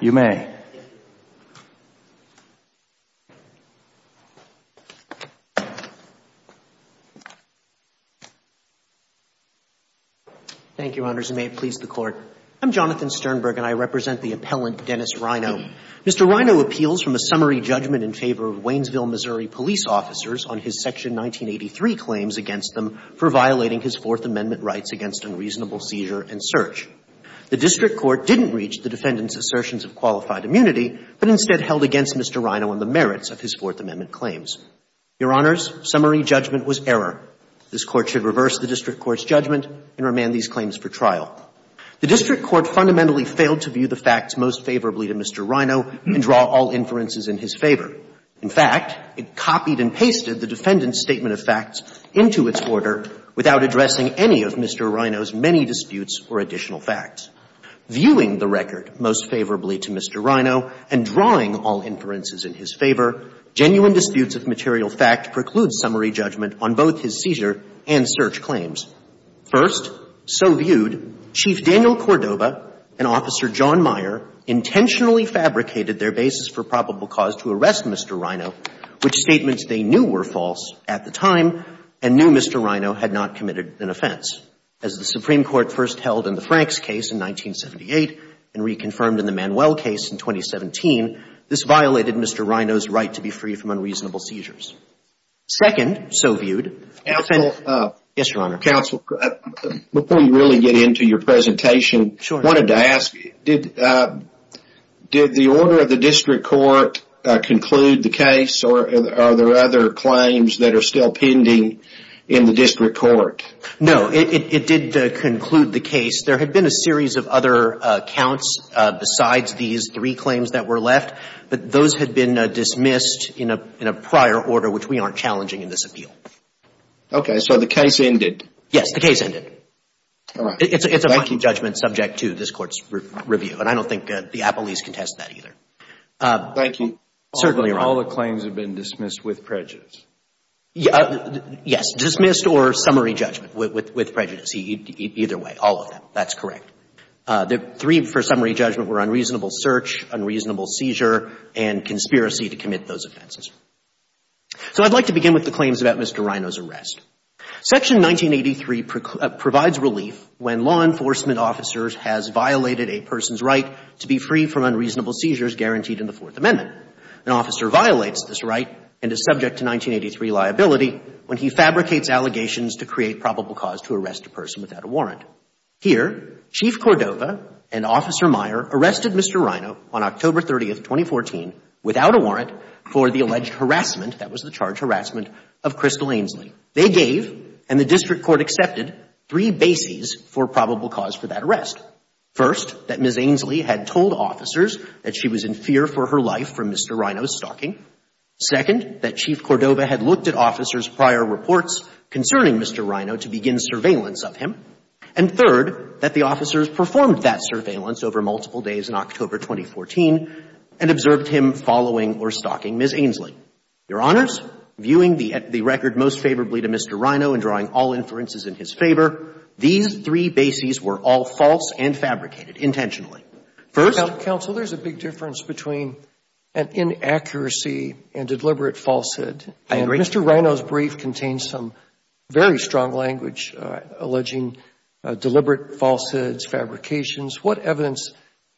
You may. Thank you, Your Honors, and may it please the Court. I'm Jonathan Sternberg and I represent the appellant Dennis Ryno. Mr. Ryno appeals from a summary judgment in favor of Waynesville, Missouri, police officers on his Section 1983 claims against them for violating his Fourth Amendment rights against unreasonable seizure and search. The district court didn't reach the defendant's assertions of qualified immunity but instead held against Mr. Ryno on the merits of his Fourth Amendment claims. Your Honors, summary judgment was error. This Court should reverse the district court's judgment and remand these claims for trial. The district court fundamentally failed to view the facts most favorably to Mr. Ryno and draw all inferences in his favor. In fact, it copied and pasted the defendant's statement of facts into its order without addressing any of Mr. Ryno's many disputes or additional facts. Viewing the record most favorably to Mr. Ryno and drawing all inferences in his favor, genuine disputes of material fact preclude summary judgment on both his seizure and search claims. First, so viewed, Chief Daniel Cordova and Officer John Meyer intentionally fabricated their basis for probable cause to arrest Mr. Ryno, which statements they knew were false at the time and knew Mr. Ryno had not committed an offense. As the Supreme Court first held in the Franks case in 1978 and reconfirmed in the Manuel case in 2017, this violated Mr. Ryno's right to be free from unreasonable seizures. Second, so viewed. Counsel. Yes, Your Honor. Counsel, before you really get into your presentation, I wanted to ask, did the order of the district court conclude the case or are there other claims that are still pending in the district court? No, it did conclude the case. There had been a series of other counts besides these three claims that were left, but those had been dismissed in a prior order, which we aren't challenging in this appeal. Okay. So the case ended. Yes. The case ended. All right. Thank you. It's a final judgment subject to this Court's review, and I don't think the appellees contest that either. Thank you. Certainly, Your Honor. All the claims have been dismissed with prejudice. Yes. Dismissed or summary judgment with prejudice. Either way, all of them. That's correct. The three for summary judgment were unreasonable search, unreasonable seizure, and conspiracy to commit those offenses. So I'd like to begin with the claims about Mr. Ryno's arrest. Section 1983 provides relief when law enforcement officers has violated a person's right to be free from unreasonable seizures guaranteed in the Fourth Amendment. An officer violates this right and is subject to 1983 liability when he fabricates allegations to create probable cause to arrest a person without a warrant. Here, Chief Cordova and Officer Meyer arrested Mr. Ryno on October 30, 2014, without a warrant, for the alleged harassment, that was the charge harassment, of Crystal Ainsley. They gave, and the district court accepted, three bases for probable cause for that arrest. First, that Ms. Ainsley had told officers that she was in fear for her life from Mr. Ryno's stalking. Second, that Chief Cordova had looked at officers' prior reports concerning Mr. Ryno to begin surveillance of him. And third, that the officers performed that surveillance over multiple days in October 2014 and observed him following or stalking Ms. Ainsley. Your Honors, viewing the record most favorably to Mr. Ryno and drawing all inferences in his favor, these three bases were all false and fabricated intentionally. First — Counsel, there's a big difference between an inaccuracy and deliberate falsehood. And Mr. Ryno's brief contains some very strong language alleging deliberate falsehoods, fabrications. What evidence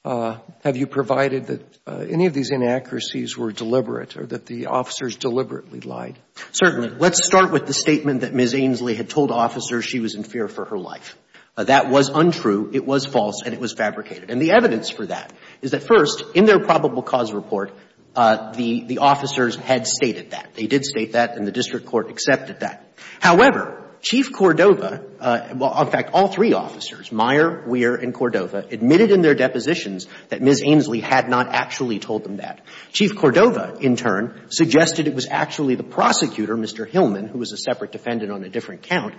have you provided that any of these inaccuracies were deliberate or that the officers deliberately lied? Certainly. Let's start with the statement that Ms. Ainsley had told officers she was in fear for her life. That was untrue, it was false, and it was fabricated. And the evidence for that is that, first, in their probable cause report, the officers had stated that. They did state that, and the district court accepted that. However, Chief Cordova — well, in fact, all three officers, Meyer, Weir, and Cordova, admitted in their depositions that Ms. Ainsley had not actually told them that. Chief Cordova, in turn, suggested it was actually the prosecutor, Mr. Hillman, who was a separate defendant on a different count,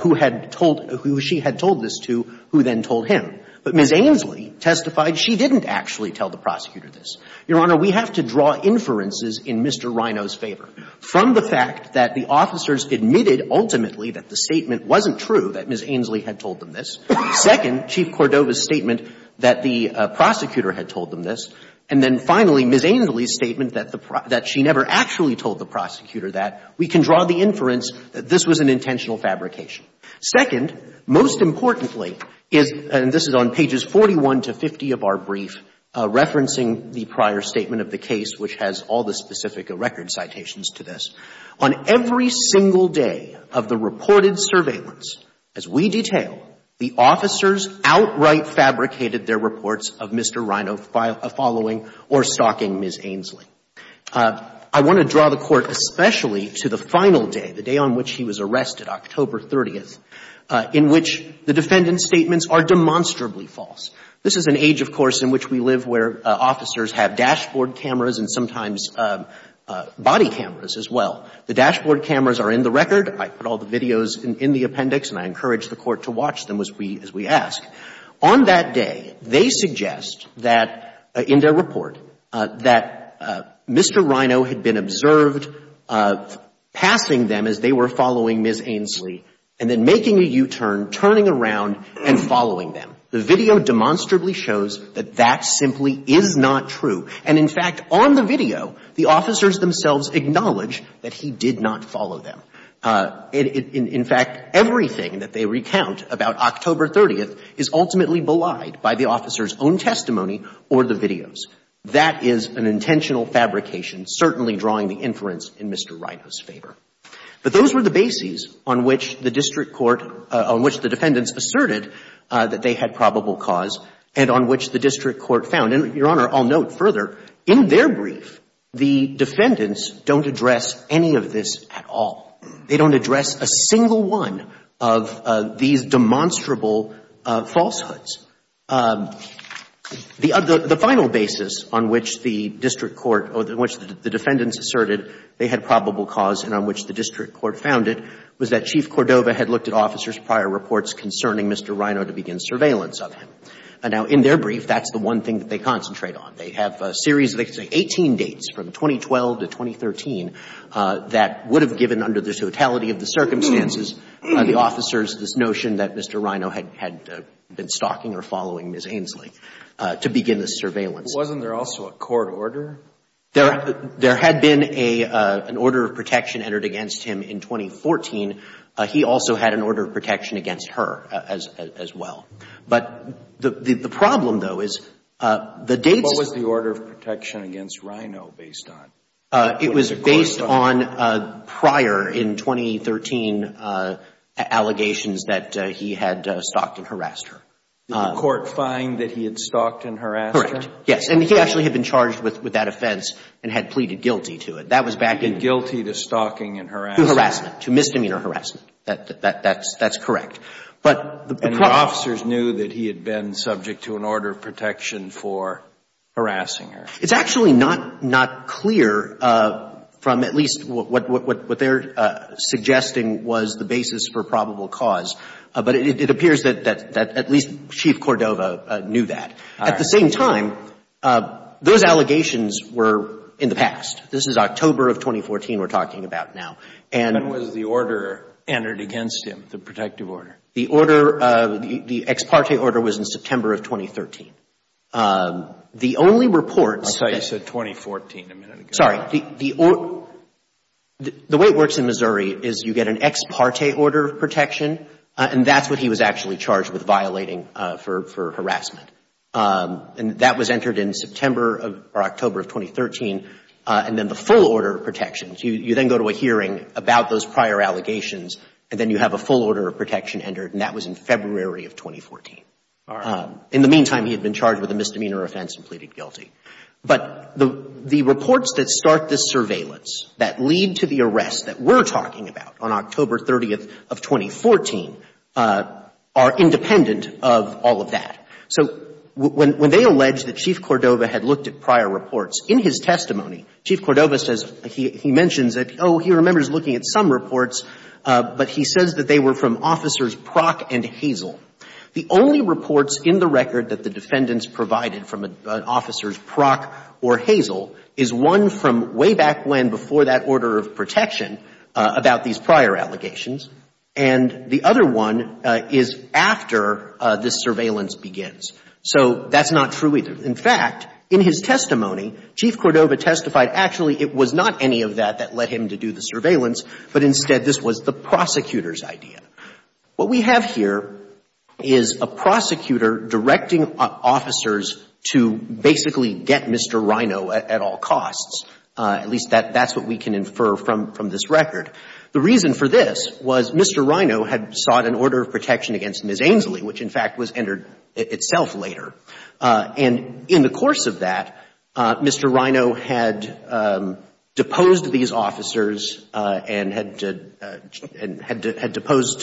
who had told — who she had told this to who then told him. But Ms. Ainsley testified she didn't actually tell the prosecutor this. Your Honor, we have to draw inferences in Mr. Rino's favor from the fact that the officers admitted ultimately that the statement wasn't true, that Ms. Ainsley had told them this. Second, Chief Cordova's statement that the prosecutor had told them this. And then, finally, Ms. Ainsley's statement that the — that she never actually told the prosecutor that. We can draw the inference that this was an intentional fabrication. Second, most importantly, is — and this is on pages 41 to 50 of our brief, referencing the prior statement of the case, which has all the specific record citations to this — on every single day of the reported surveillance, as we detail, the officers outright fabricated their reports of Mr. Rino following or stalking Ms. Ainsley. I want to draw the Court especially to the final day, the day on which he was arrested, October 30th, in which the defendant's statements are demonstrably false. This is an age, of course, in which we live where officers have dashboard cameras and sometimes body cameras as well. The dashboard cameras are in the record. I put all the videos in the appendix and I encourage the Court to watch them as we ask. On that day, they suggest that — in their report, that Mr. Rino had been observed passing them as they were following Ms. Ainsley and then making a U-turn, turning around and following them. The video demonstrably shows that that simply is not true. And, in fact, on the video, the officers themselves acknowledge that he did not follow them. In fact, everything that they recount about October 30th is ultimately belied by the officer's own testimony or the videos. That is an intentional fabrication, certainly drawing the inference in Mr. Rino's favor. But those were the bases on which the district court — on which the defendants asserted that they had probable cause and on which the district court found. And, Your Honor, I'll note further, in their brief, the defendants don't address any of this at all. They don't address a single one of these demonstrable falsehoods. The final basis on which the district court — on which the defendants asserted they had probable cause and on which the district court found it was that Chief Cordova had looked at officers' prior reports concerning Mr. Rino to begin surveillance of him. Now, in their brief, that's the one thing that they concentrate on. They have a series of, let's say, 18 dates from 2012 to 2013 that would have given, under the totality of the circumstances, the officers this notion that Mr. Rino had been stalking or following Ms. Ainslie to begin this surveillance. But wasn't there also a court order? There had been an order of protection entered against him in 2014. He also had an order of protection against her as well. But the problem, though, is the dates — What was the order of protection against Rino based on? It was based on prior, in 2013, allegations that he had stalked and harassed her. Did the court find that he had stalked and harassed her? Correct. Yes. And he actually had been charged with that offense and had pleaded guilty to it. That was back in — He pleaded guilty to stalking and harassment. To harassment, to misdemeanor harassment. That's correct. And the officers knew that he had been subject to an order of protection for harassing her. It's actually not clear from at least what they're suggesting was the basis for probable cause. But it appears that at least Chief Cordova knew that. All right. At the same time, those allegations were in the past. This is October of 2014 we're talking about now. When was the order entered against him, the protective order? The order, the ex parte order, was in September of 2013. The only reports — I thought you said 2014 a minute ago. Sorry. The way it works in Missouri is you get an ex parte order of protection, and that's what he was actually charged with violating for harassment. And that was entered in September or October of 2013. And then the full order of protections, you then go to a hearing about those prior allegations, and then you have a full order of protection entered, and that was in February of 2014. All right. In the meantime, he had been charged with a misdemeanor offense and pleaded guilty. But the reports that start this surveillance, that lead to the arrests that we're talking about on October 30th of 2014, are independent of all of that. So when they allege that Chief Cordova had looked at prior reports, in his testimony, Chief Cordova says — he mentions that, oh, he remembers looking at some reports, but he says that they were from Officers Prock and Hazel. The only reports in the record that the defendants provided from Officers Prock or Hazel is one from way back when before that order of protection about these prior allegations, and the other one is after this surveillance begins. So that's not true either. In fact, in his testimony, Chief Cordova testified actually it was not any of that that led him to do the surveillance, but instead this was the prosecutor's idea. What we have here is a prosecutor directing officers to basically get Mr. Rhino at all costs. At least that's what we can infer from this record. The reason for this was Mr. Rhino had sought an order of protection against Ms. Ainslie, which in fact was entered itself later. And in the course of that, Mr. Rhino had deposed these officers and had deposed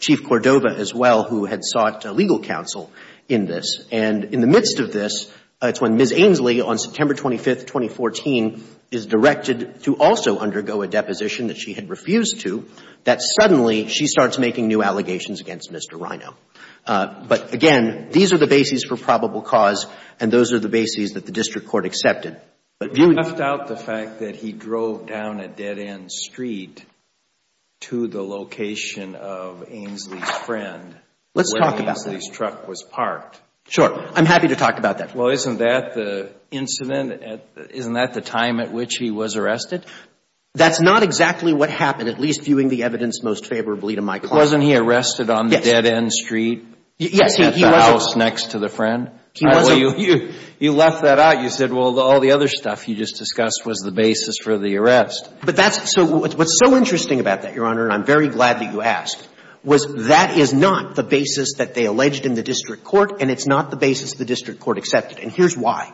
Chief Cordova as well, who had sought legal counsel in this. And in the midst of this, it's when Ms. Ainslie, on September 25th, 2014, is directed to also undergo a deposition that she had refused to, that suddenly she starts making new allegations against Mr. Rhino. But again, these are the bases for probable cause, and those are the bases that the district court accepted. But you left out the fact that he drove down a dead-end street to the location of Ainslie's friend. Let's talk about that. Where Ainslie's truck was parked. Sure. I'm happy to talk about that. Well, isn't that the incident? Isn't that the time at which he was arrested? That's not exactly what happened, at least viewing the evidence most favorably to my client. Wasn't he arrested on the dead-end street? Yes, he was. At the house next to the friend? He wasn't. You left that out. You said, well, all the other stuff you just discussed was the basis for the arrest. But that's so — what's so interesting about that, Your Honor, and I'm very glad that you asked, was that is not the basis that they alleged in the district court, and it's not the basis the district court accepted. And here's why.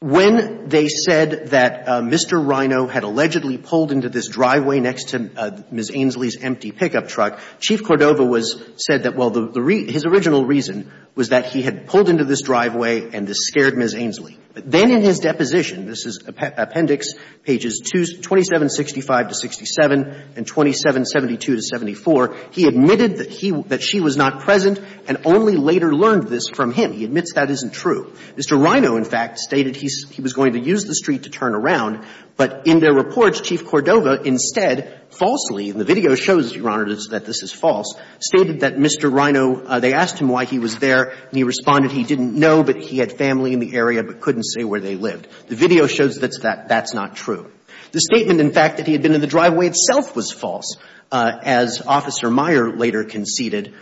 When they said that Mr. Rino had allegedly pulled into this driveway next to Ms. Ainslie's empty pickup truck, Chief Cordova was — said that, well, the — his original reason was that he had pulled into this driveway and this scared Ms. Ainslie. But then in his deposition, this is appendix, pages 2765 to 67 and 2772 to 74, he admitted that he — that she was not present and only later learned this from him. He admits that isn't true. Mr. Rino, in fact, stated he was going to use the street to turn around, but in their reports, Chief Cordova instead falsely — and the video shows, Your Honor, that this is false — stated that Mr. Rino — they asked him why he was there, and he responded he didn't know, but he had family in the area but couldn't say where they lived. The video shows that that's not true. The statement, in fact, that he had been in the driveway itself was false, as Officer Meyer later conceded.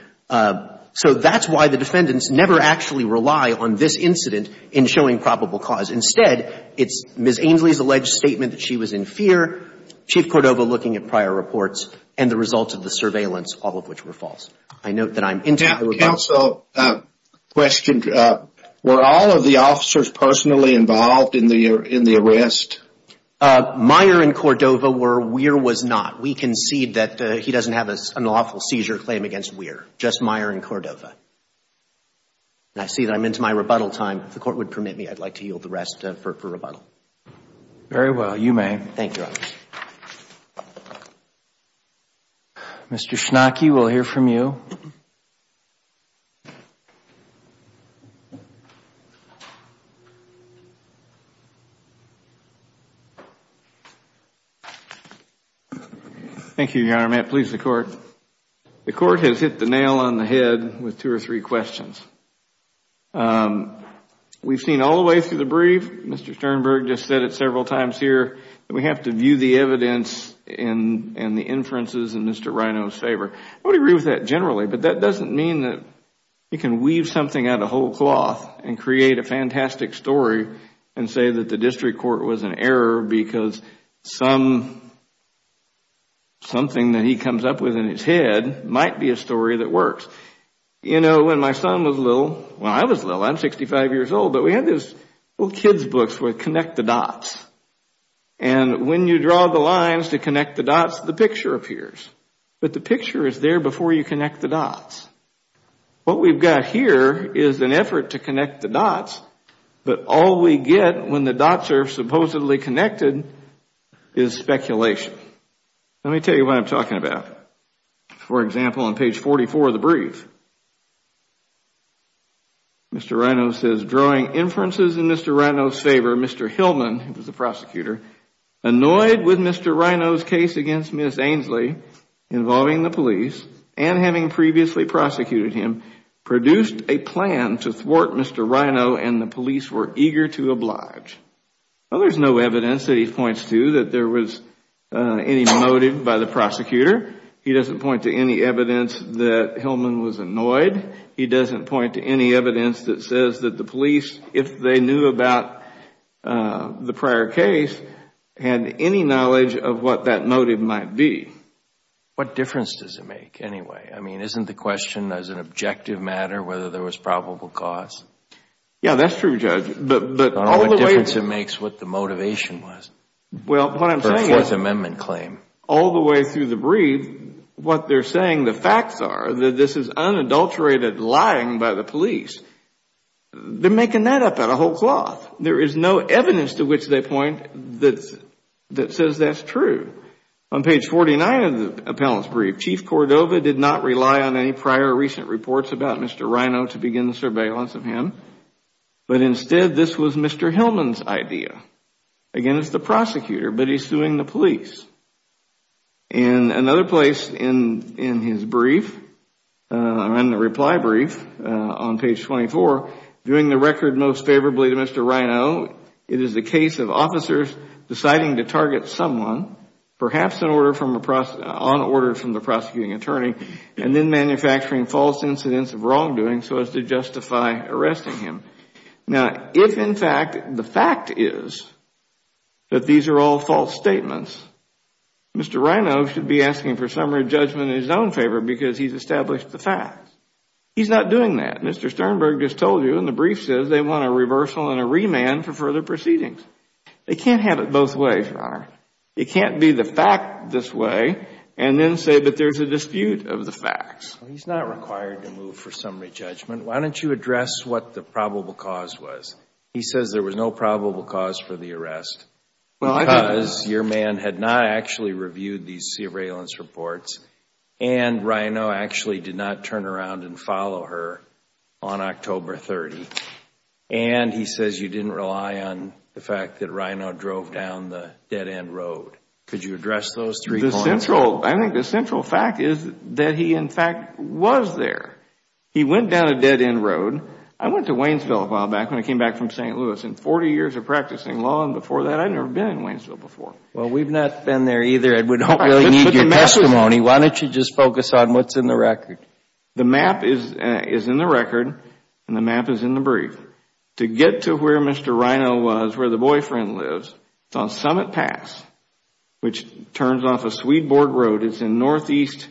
So that's why the defendants never actually rely on this incident in showing probable cause. Instead, it's Ms. Ainslie's alleged statement that she was in fear, Chief Cordova looking at prior reports, and the results of the surveillance, all of which were false. I note that I'm — Now, counsel, question. Were all of the officers personally involved in the arrest? Meyer and Cordova were. Weir was not. We concede that he doesn't have an unlawful seizure claim against Weir, just Meyer and Cordova. And I see that I'm into my rebuttal time. If the Court would permit me, I'd like to yield the rest for rebuttal. Very well. You may. Thank you, Your Honor. Mr. Schnake, we'll hear from you. Thank you, Your Honor. May it please the Court. The Court has hit the nail on the head with two or three questions. We've seen all the way through the brief, Mr. Sternberg just said it several times here, that we have to view the evidence and the inferences in Mr. Rino's favor. I would agree with that generally, but that doesn't mean that you can weave something out of whole cloth and create a fantastic story and say that the district court was an error because something that he comes up with in his head might be a story that works. You know, when my son was little, well, I was little. I'm 65 years old. But we had these little kids books with connect the dots. And when you draw the lines to connect the dots, the picture appears. But the picture is there before you connect the dots. What we've got here is an effort to connect the dots, but all we get when the dots are supposedly connected is speculation. Let me tell you what I'm talking about. For example, on page 44 of the brief, Mr. Rino says drawing inferences in Mr. Rino's favor, Mr. Hillman, the prosecutor, annoyed with Mr. Rino's case against Ms. Ainslie involving the police and having previously prosecuted him, produced a plan to thwart Mr. Rino and the police were eager to oblige. Well, there's no evidence that he points to that there was any motive by the prosecutor. He doesn't point to any evidence that Hillman was annoyed. He doesn't point to any evidence that says that the police, if they knew about the prior case, had any knowledge of what that motive might be. What difference does it make anyway? I mean, isn't the question as an objective matter whether there was probable cause? Yeah, that's true, Judge. I don't know what difference it makes what the motivation was for a Fourth Amendment Well, what I'm saying is all the way through the brief, what they're saying, the facts are that this is unadulterated lying by the police. They're making that up out of whole cloth. There is no evidence to which they point that says that's true. On page 49 of the appellant's brief, Chief Cordova did not rely on any prior recent reports about Mr. Rino to begin the surveillance of him. But instead, this was Mr. Hillman's idea. Again, it's the prosecutor, but he's suing the police. In another place in his brief, in the reply brief on page 24, doing the record most favorably to Mr. Rino, it is the case of officers deciding to target someone, perhaps on order from the evidence of wrongdoing, so as to justify arresting him. Now, if in fact the fact is that these are all false statements, Mr. Rino should be asking for summary judgment in his own favor because he's established the facts. He's not doing that. Mr. Sternberg just told you in the brief says they want a reversal and a remand for further proceedings. They can't have it both ways, Your Honor. It can't be the fact this way and then say but there's a dispute of the facts. He's not required to move for summary judgment. Why don't you address what the probable cause was? He says there was no probable cause for the arrest because your man had not actually reviewed these surveillance reports and Rino actually did not turn around and follow her on October 30th. And he says you didn't rely on the fact that Rino drove down the dead end road. Could you address those three points? I think the central fact is that he in fact was there. He went down a dead end road. I went to Waynesville a while back when I came back from St. Louis and 40 years of practicing law and before that I had never been in Waynesville before. Well, we've not been there either, Ed. We don't really need your testimony. Why don't you just focus on what's in the record? The map is in the record and the map is in the brief. To get to where Mr. Rino was, where the boyfriend lives, it's on Summit Pass, which turns off the Swedborg Road. It's in the northeast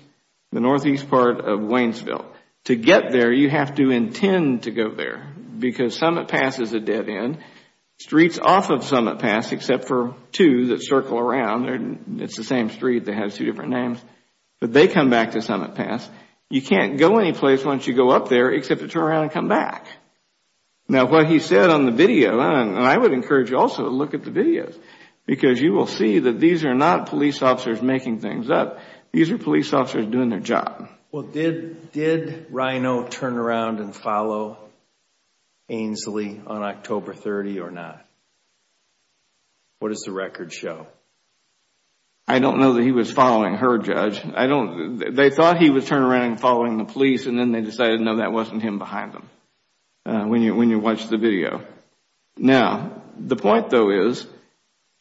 part of Waynesville. To get there, you have to intend to go there because Summit Pass is a dead end. Streets off of Summit Pass, except for two that circle around, it's the same street that has two different names, but they come back to Summit Pass. You can't go anyplace once you go up there except to turn around and come back. Now, what he said on the video, and I would encourage you also to look at the videos because you will see that these are not police officers making things up. These are police officers doing their job. Well, did Rino turn around and follow Ainsley on October 30 or not? What does the record show? I don't know that he was following her, Judge. They thought he was turning around and following the police and then they decided, no, that wasn't him behind them when you watch the video. Now, the point, though, is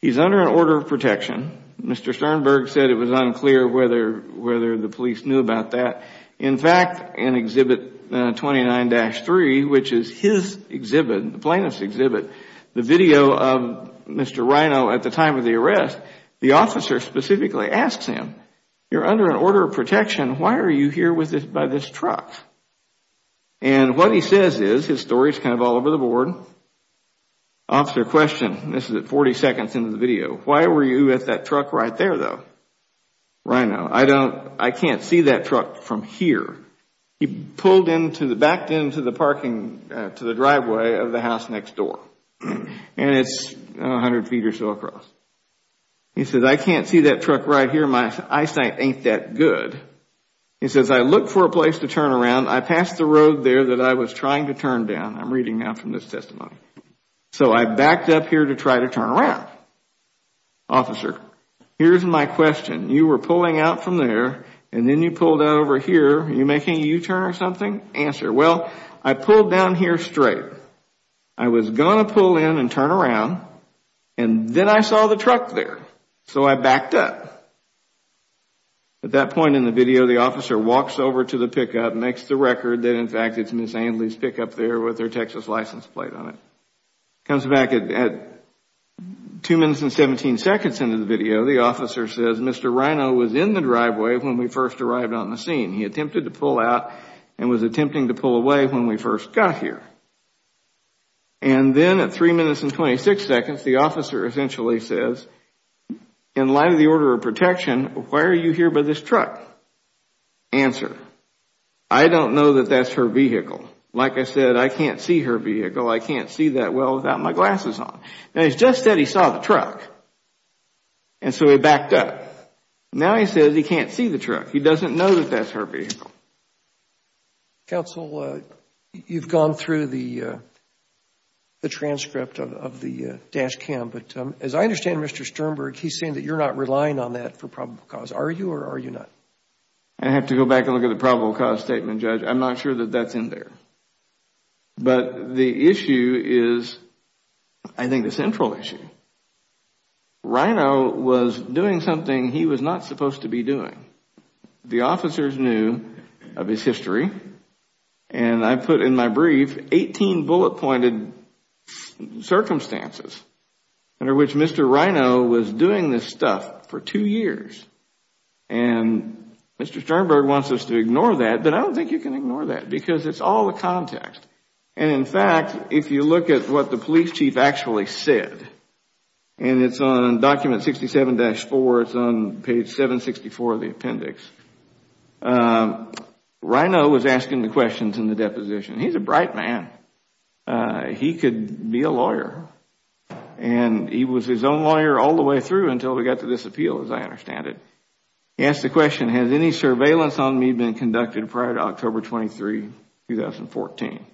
he's under an order of protection. Mr. Sternberg said it was unclear whether the police knew about that. In fact, in Exhibit 29-3, which is his exhibit, the plaintiff's exhibit, the video of Mr. Rino at the time of the arrest, the officer specifically asks him, you're under an order of protection, why are you here by this truck? And what he says is, his story is kind of all over the board, the officer questions, this is at 40 seconds into the video, why were you at that truck right there, though? Rino, I can't see that truck from here. He backed into the driveway of the house next door and it's 100 feet or so across. He says, I can't see that truck right here. My eyesight ain't that good. He says, I looked for a place to turn around. I passed the road there that I was trying to turn down. I'm reading now from this testimony. So I backed up here to try to turn around. Officer, here's my question. You were pulling out from there and then you pulled out over here. Are you making a U-turn or something? Answer, well, I pulled down here straight. I was going to pull in and turn around and then I saw the truck there. So I backed up. At that point in the video, the officer walks over to the pickup, makes the record that, in fact, it's Ms. Andley's pickup there with her Texas license plate on it. Comes back at 2 minutes and 17 seconds into the video, the officer says, Mr. Rino was in the driveway when we first arrived on the scene. He attempted to pull out and was attempting to pull away when we first got here. And then at 3 minutes and 26 seconds, the officer essentially says, in light of the order of protection, why are you here by this truck? Answer, I don't know that that's her vehicle. Like I said, I can't see her vehicle. I can't see that well without my glasses on. Now, he just said he saw the truck. And so he backed up. Now he says he can't see the truck. He doesn't know that that's her vehicle. Counsel, you've gone through the transcript of the dash cam. But as I understand, Mr. Sternberg, he's saying that you're not relying on that for probable cause. Are you or are you not? I have to go back and look at the probable cause statement, Judge. I'm not sure that that's in there. But the issue is, I think, the central issue. Rino was doing something he was not supposed to be doing. The officers knew of his history. And I put in my brief 18 bullet-pointed circumstances under which Mr. Rino was doing this stuff for two years. And Mr. Sternberg wants us to ignore that, but I don't think you can ignore that because it's all the context. And in fact, if you look at what the police chief actually said, and it's on document 67-4, it's on page 764 of the appendix, Rino was asking the questions in the deposition. He's a bright man. He could be a lawyer. And he was his own lawyer all the way through until we got to this appeal, as I understand it. He asked the question, has any surveillance on me been conducted prior to October 23, 2014?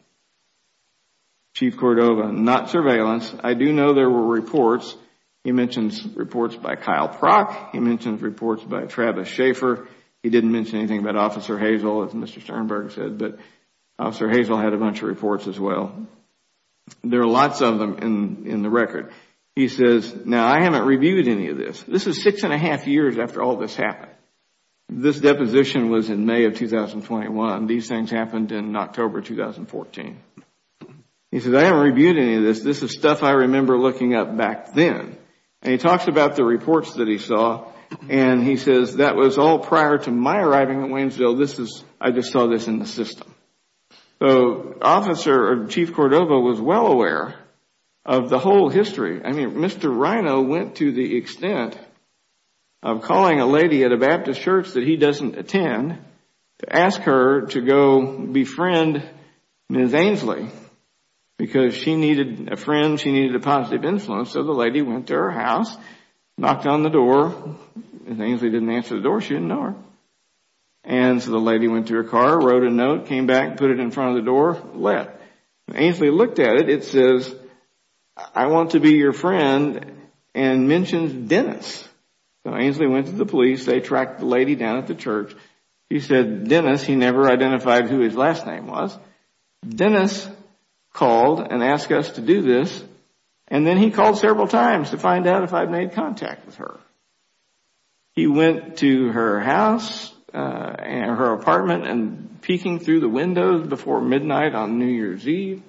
Chief Cordova, not surveillance. I do know there were reports. He mentions reports by Kyle Prock. He mentions reports by Travis Schaefer. He didn't mention anything about Officer Hazel, as Mr. Sternberg said. But Officer Hazel had a bunch of reports as well. There are lots of them in the record. He says, now, I haven't reviewed any of this. This is six and a half years after all this happened. This deposition was in May of 2021. These things happened in October 2014. He says, I haven't reviewed any of this. He says, this is stuff I remember looking up back then. And he talks about the reports that he saw. And he says, that was all prior to my arriving at Waynesville. I just saw this in the system. So Officer or Chief Cordova was well aware of the whole history. I mean, Mr. Rino went to the extent of calling a lady at a Baptist church that he doesn't attend to ask her to go befriend Ms. Ainsley because she needed a friend. She needed a positive influence. So the lady went to her house, knocked on the door. Ms. Ainsley didn't answer the door. She didn't know her. And so the lady went to her car, wrote a note, came back, put it in front of the door, left. Ainsley looked at it. It says, I want to be your friend and mentions Dennis. So Ainsley went to the police. They tracked the lady down at the church. He said, Dennis. He never identified who his last name was. Dennis called and asked us to do this. And then he called several times to find out if I had made contact with her. He went to her house and her apartment and peeking through the windows before midnight on New Year's Eve.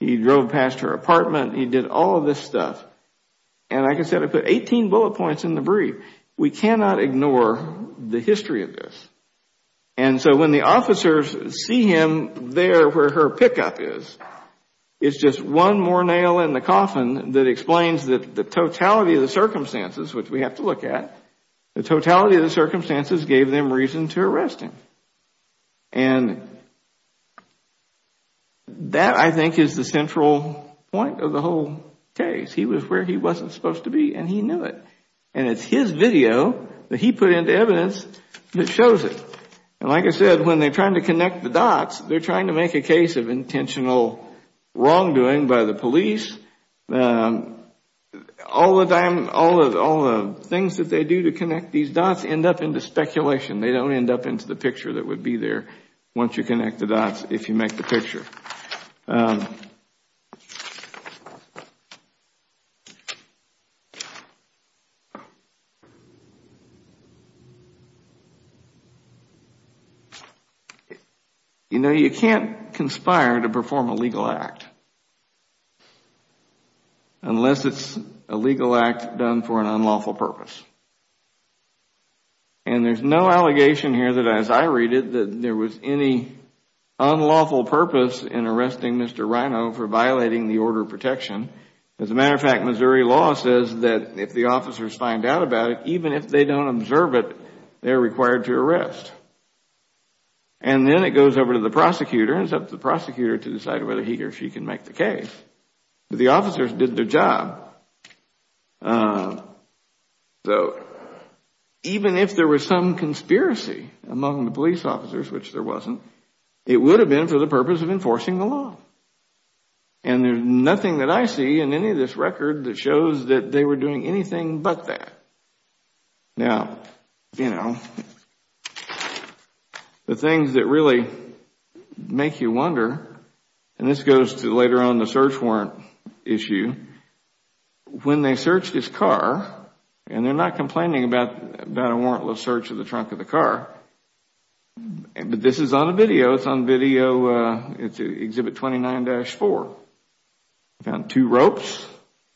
He drove past her apartment. He did all of this stuff. And like I said, I put 18 bullet points in the brief. We cannot ignore the history of this. And so when the officers see him there where her pickup is, it's just one more nail in the coffin that explains the totality of the circumstances, which we have to look at, the totality of the circumstances gave them reason to arrest him. And that, I think, is the central point of the whole case. He was where he wasn't supposed to be and he knew it. And it's his video that he put into evidence that shows it. And like I said, when they're trying to connect the dots, they're trying to make a case of intentional wrongdoing by the police. All the things that they do to connect these dots end up into speculation. They don't end up into the picture that would be there once you connect the dots if you make the picture. You know, you can't conspire to perform a legal act unless it's a legal act done for an unlawful purpose. And there's no allegation here that, as I read it, that there was any unlawful purpose in arresting Mr. Rino for violating the order of protection. As a matter of fact, Missouri law says that if the officers find out about it, even if they don't observe it, they're required to arrest. And then it goes over to the prosecutor and it's up to the prosecutor to decide whether he or she can make the case. But the officers did their job. So even if there was some conspiracy among the police officers, which there wasn't, it would have been for the purpose of enforcing the law. And there's nothing that I see in any of this record that shows that they were doing anything but that. Now, you know, the things that really make you wonder, and this goes to later on the search warrant issue, when they searched his car, and they're not complaining about a warrantless search of the trunk of the car, but this is on video, it's on video, it's Exhibit 29-4. They found two ropes,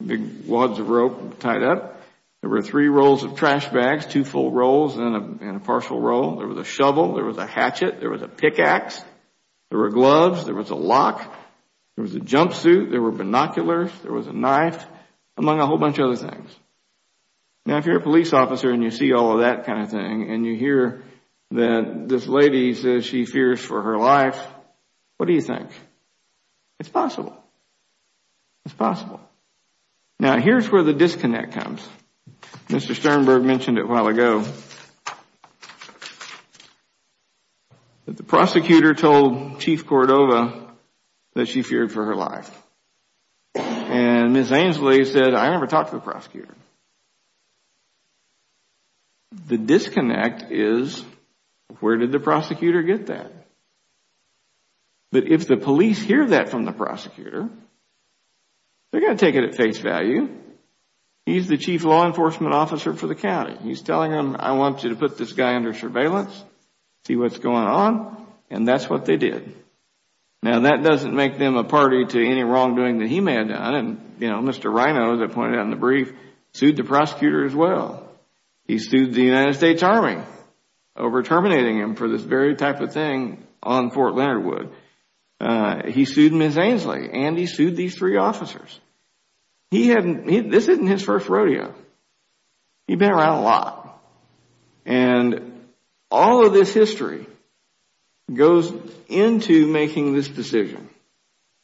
big wads of rope tied up. There were three rolls of trash bags, two full rolls and a partial roll. There was a shovel. There was a hatchet. There was a pickaxe. There were gloves. There was a lock. There was a jumpsuit. There were binoculars. There was a knife, among a whole bunch of other things. Now, if you're a police officer and you see all of that kind of thing, and you hear that this lady says she fears for her life, what do you think? It's possible. It's possible. Now, here's where the disconnect comes. Mr. Sternberg mentioned it a while ago. The prosecutor told Chief Cordova that she feared for her life. And Ms. Ainslie said, I never talked to the prosecutor. The disconnect is where did the prosecutor get that? But if the police hear that from the prosecutor, they're going to take it at face value. He's the chief law enforcement officer for the county. He's telling them, I want you to put this guy under surveillance, see what's going on, and that's what they did. Now, that doesn't make them a party to any wrongdoing that he may have done. Mr. Rino, as I pointed out in the brief, sued the prosecutor as well. He sued the United States Army over terminating him for this very type of thing on Fort Leonard Wood. He sued Ms. Ainslie and he sued these three officers. This isn't his first rodeo. He's been around a lot. And all of this history goes into making this decision.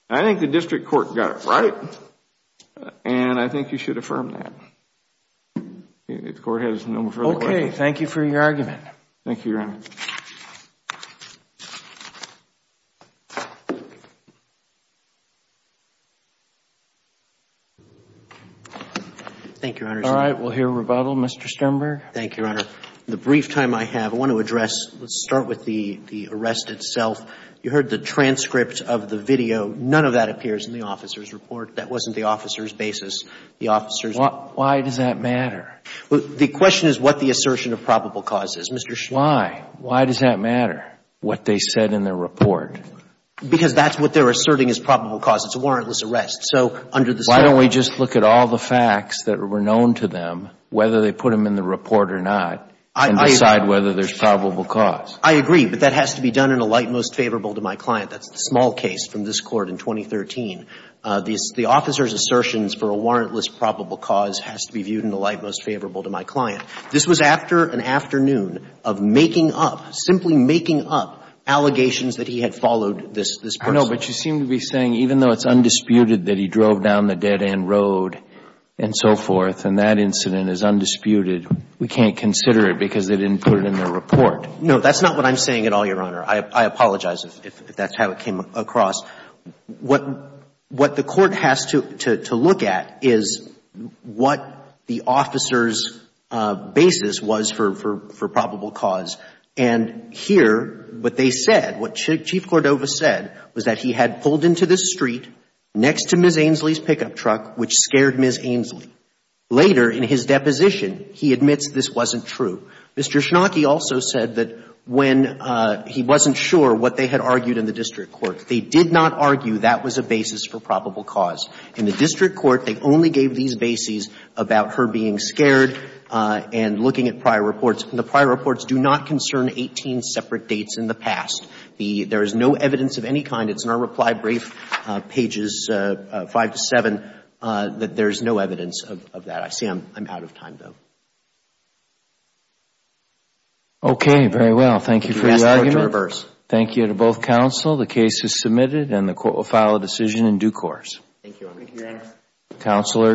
I think the district court got it right and I think you should affirm that. If the court has no further questions. Thank you, Your Honor. Thank you, Your Honor. All right. We'll hear rebuttal. Mr. Sternberg. Thank you, Your Honor. In the brief time I have, I want to address, let's start with the arrest itself. You heard the transcript of the video. None of that appears in the officer's report. That wasn't the officer's basis. The officer's. Why does that matter? The question is what the assertion of probable cause is. Mr. Sternberg. Why? Why does that matter, what they said in their report? Because that's what they're asserting is probable cause. It's a warrantless arrest. Why don't we just look at all the facts that were known to them, whether they put them in the report or not, and decide whether there's probable cause. I agree. But that has to be done in a light most favorable to my client. That's the small case from this court in 2013. The officer's assertions for a warrantless probable cause has to be viewed in a light most favorable to my client. This was after an afternoon of making up, simply making up, allegations that he had followed this person. No, but you seem to be saying even though it's undisputed that he drove down the dead end road and so forth, and that incident is undisputed, we can't consider it because they didn't put it in their report. No, that's not what I'm saying at all, Your Honor. I apologize if that's how it came across. What the court has to look at is what the officer's basis was for probable cause. And here, what they said, what Chief Cordova said was that he had pulled into this street next to Ms. Ainslie's pickup truck, which scared Ms. Ainslie. Later in his deposition, he admits this wasn't true. Mr. Schnake also said that when he wasn't sure what they had argued in the district court, they did not argue that was a basis for probable cause. In the district court, they only gave these bases about her being scared and looking at prior reports. And the prior reports do not concern 18 separate dates in the past. There is no evidence of any kind. It's in our reply brief, pages 5 to 7, that there is no evidence of that. I see I'm out of time, though. Okay, very well. Thank you for your argument. I ask the court to reverse. Thank you to both counsel. The case is submitted, and the court will file a decision in due course. Thank you, Your Honor. Thank you, Your Honor.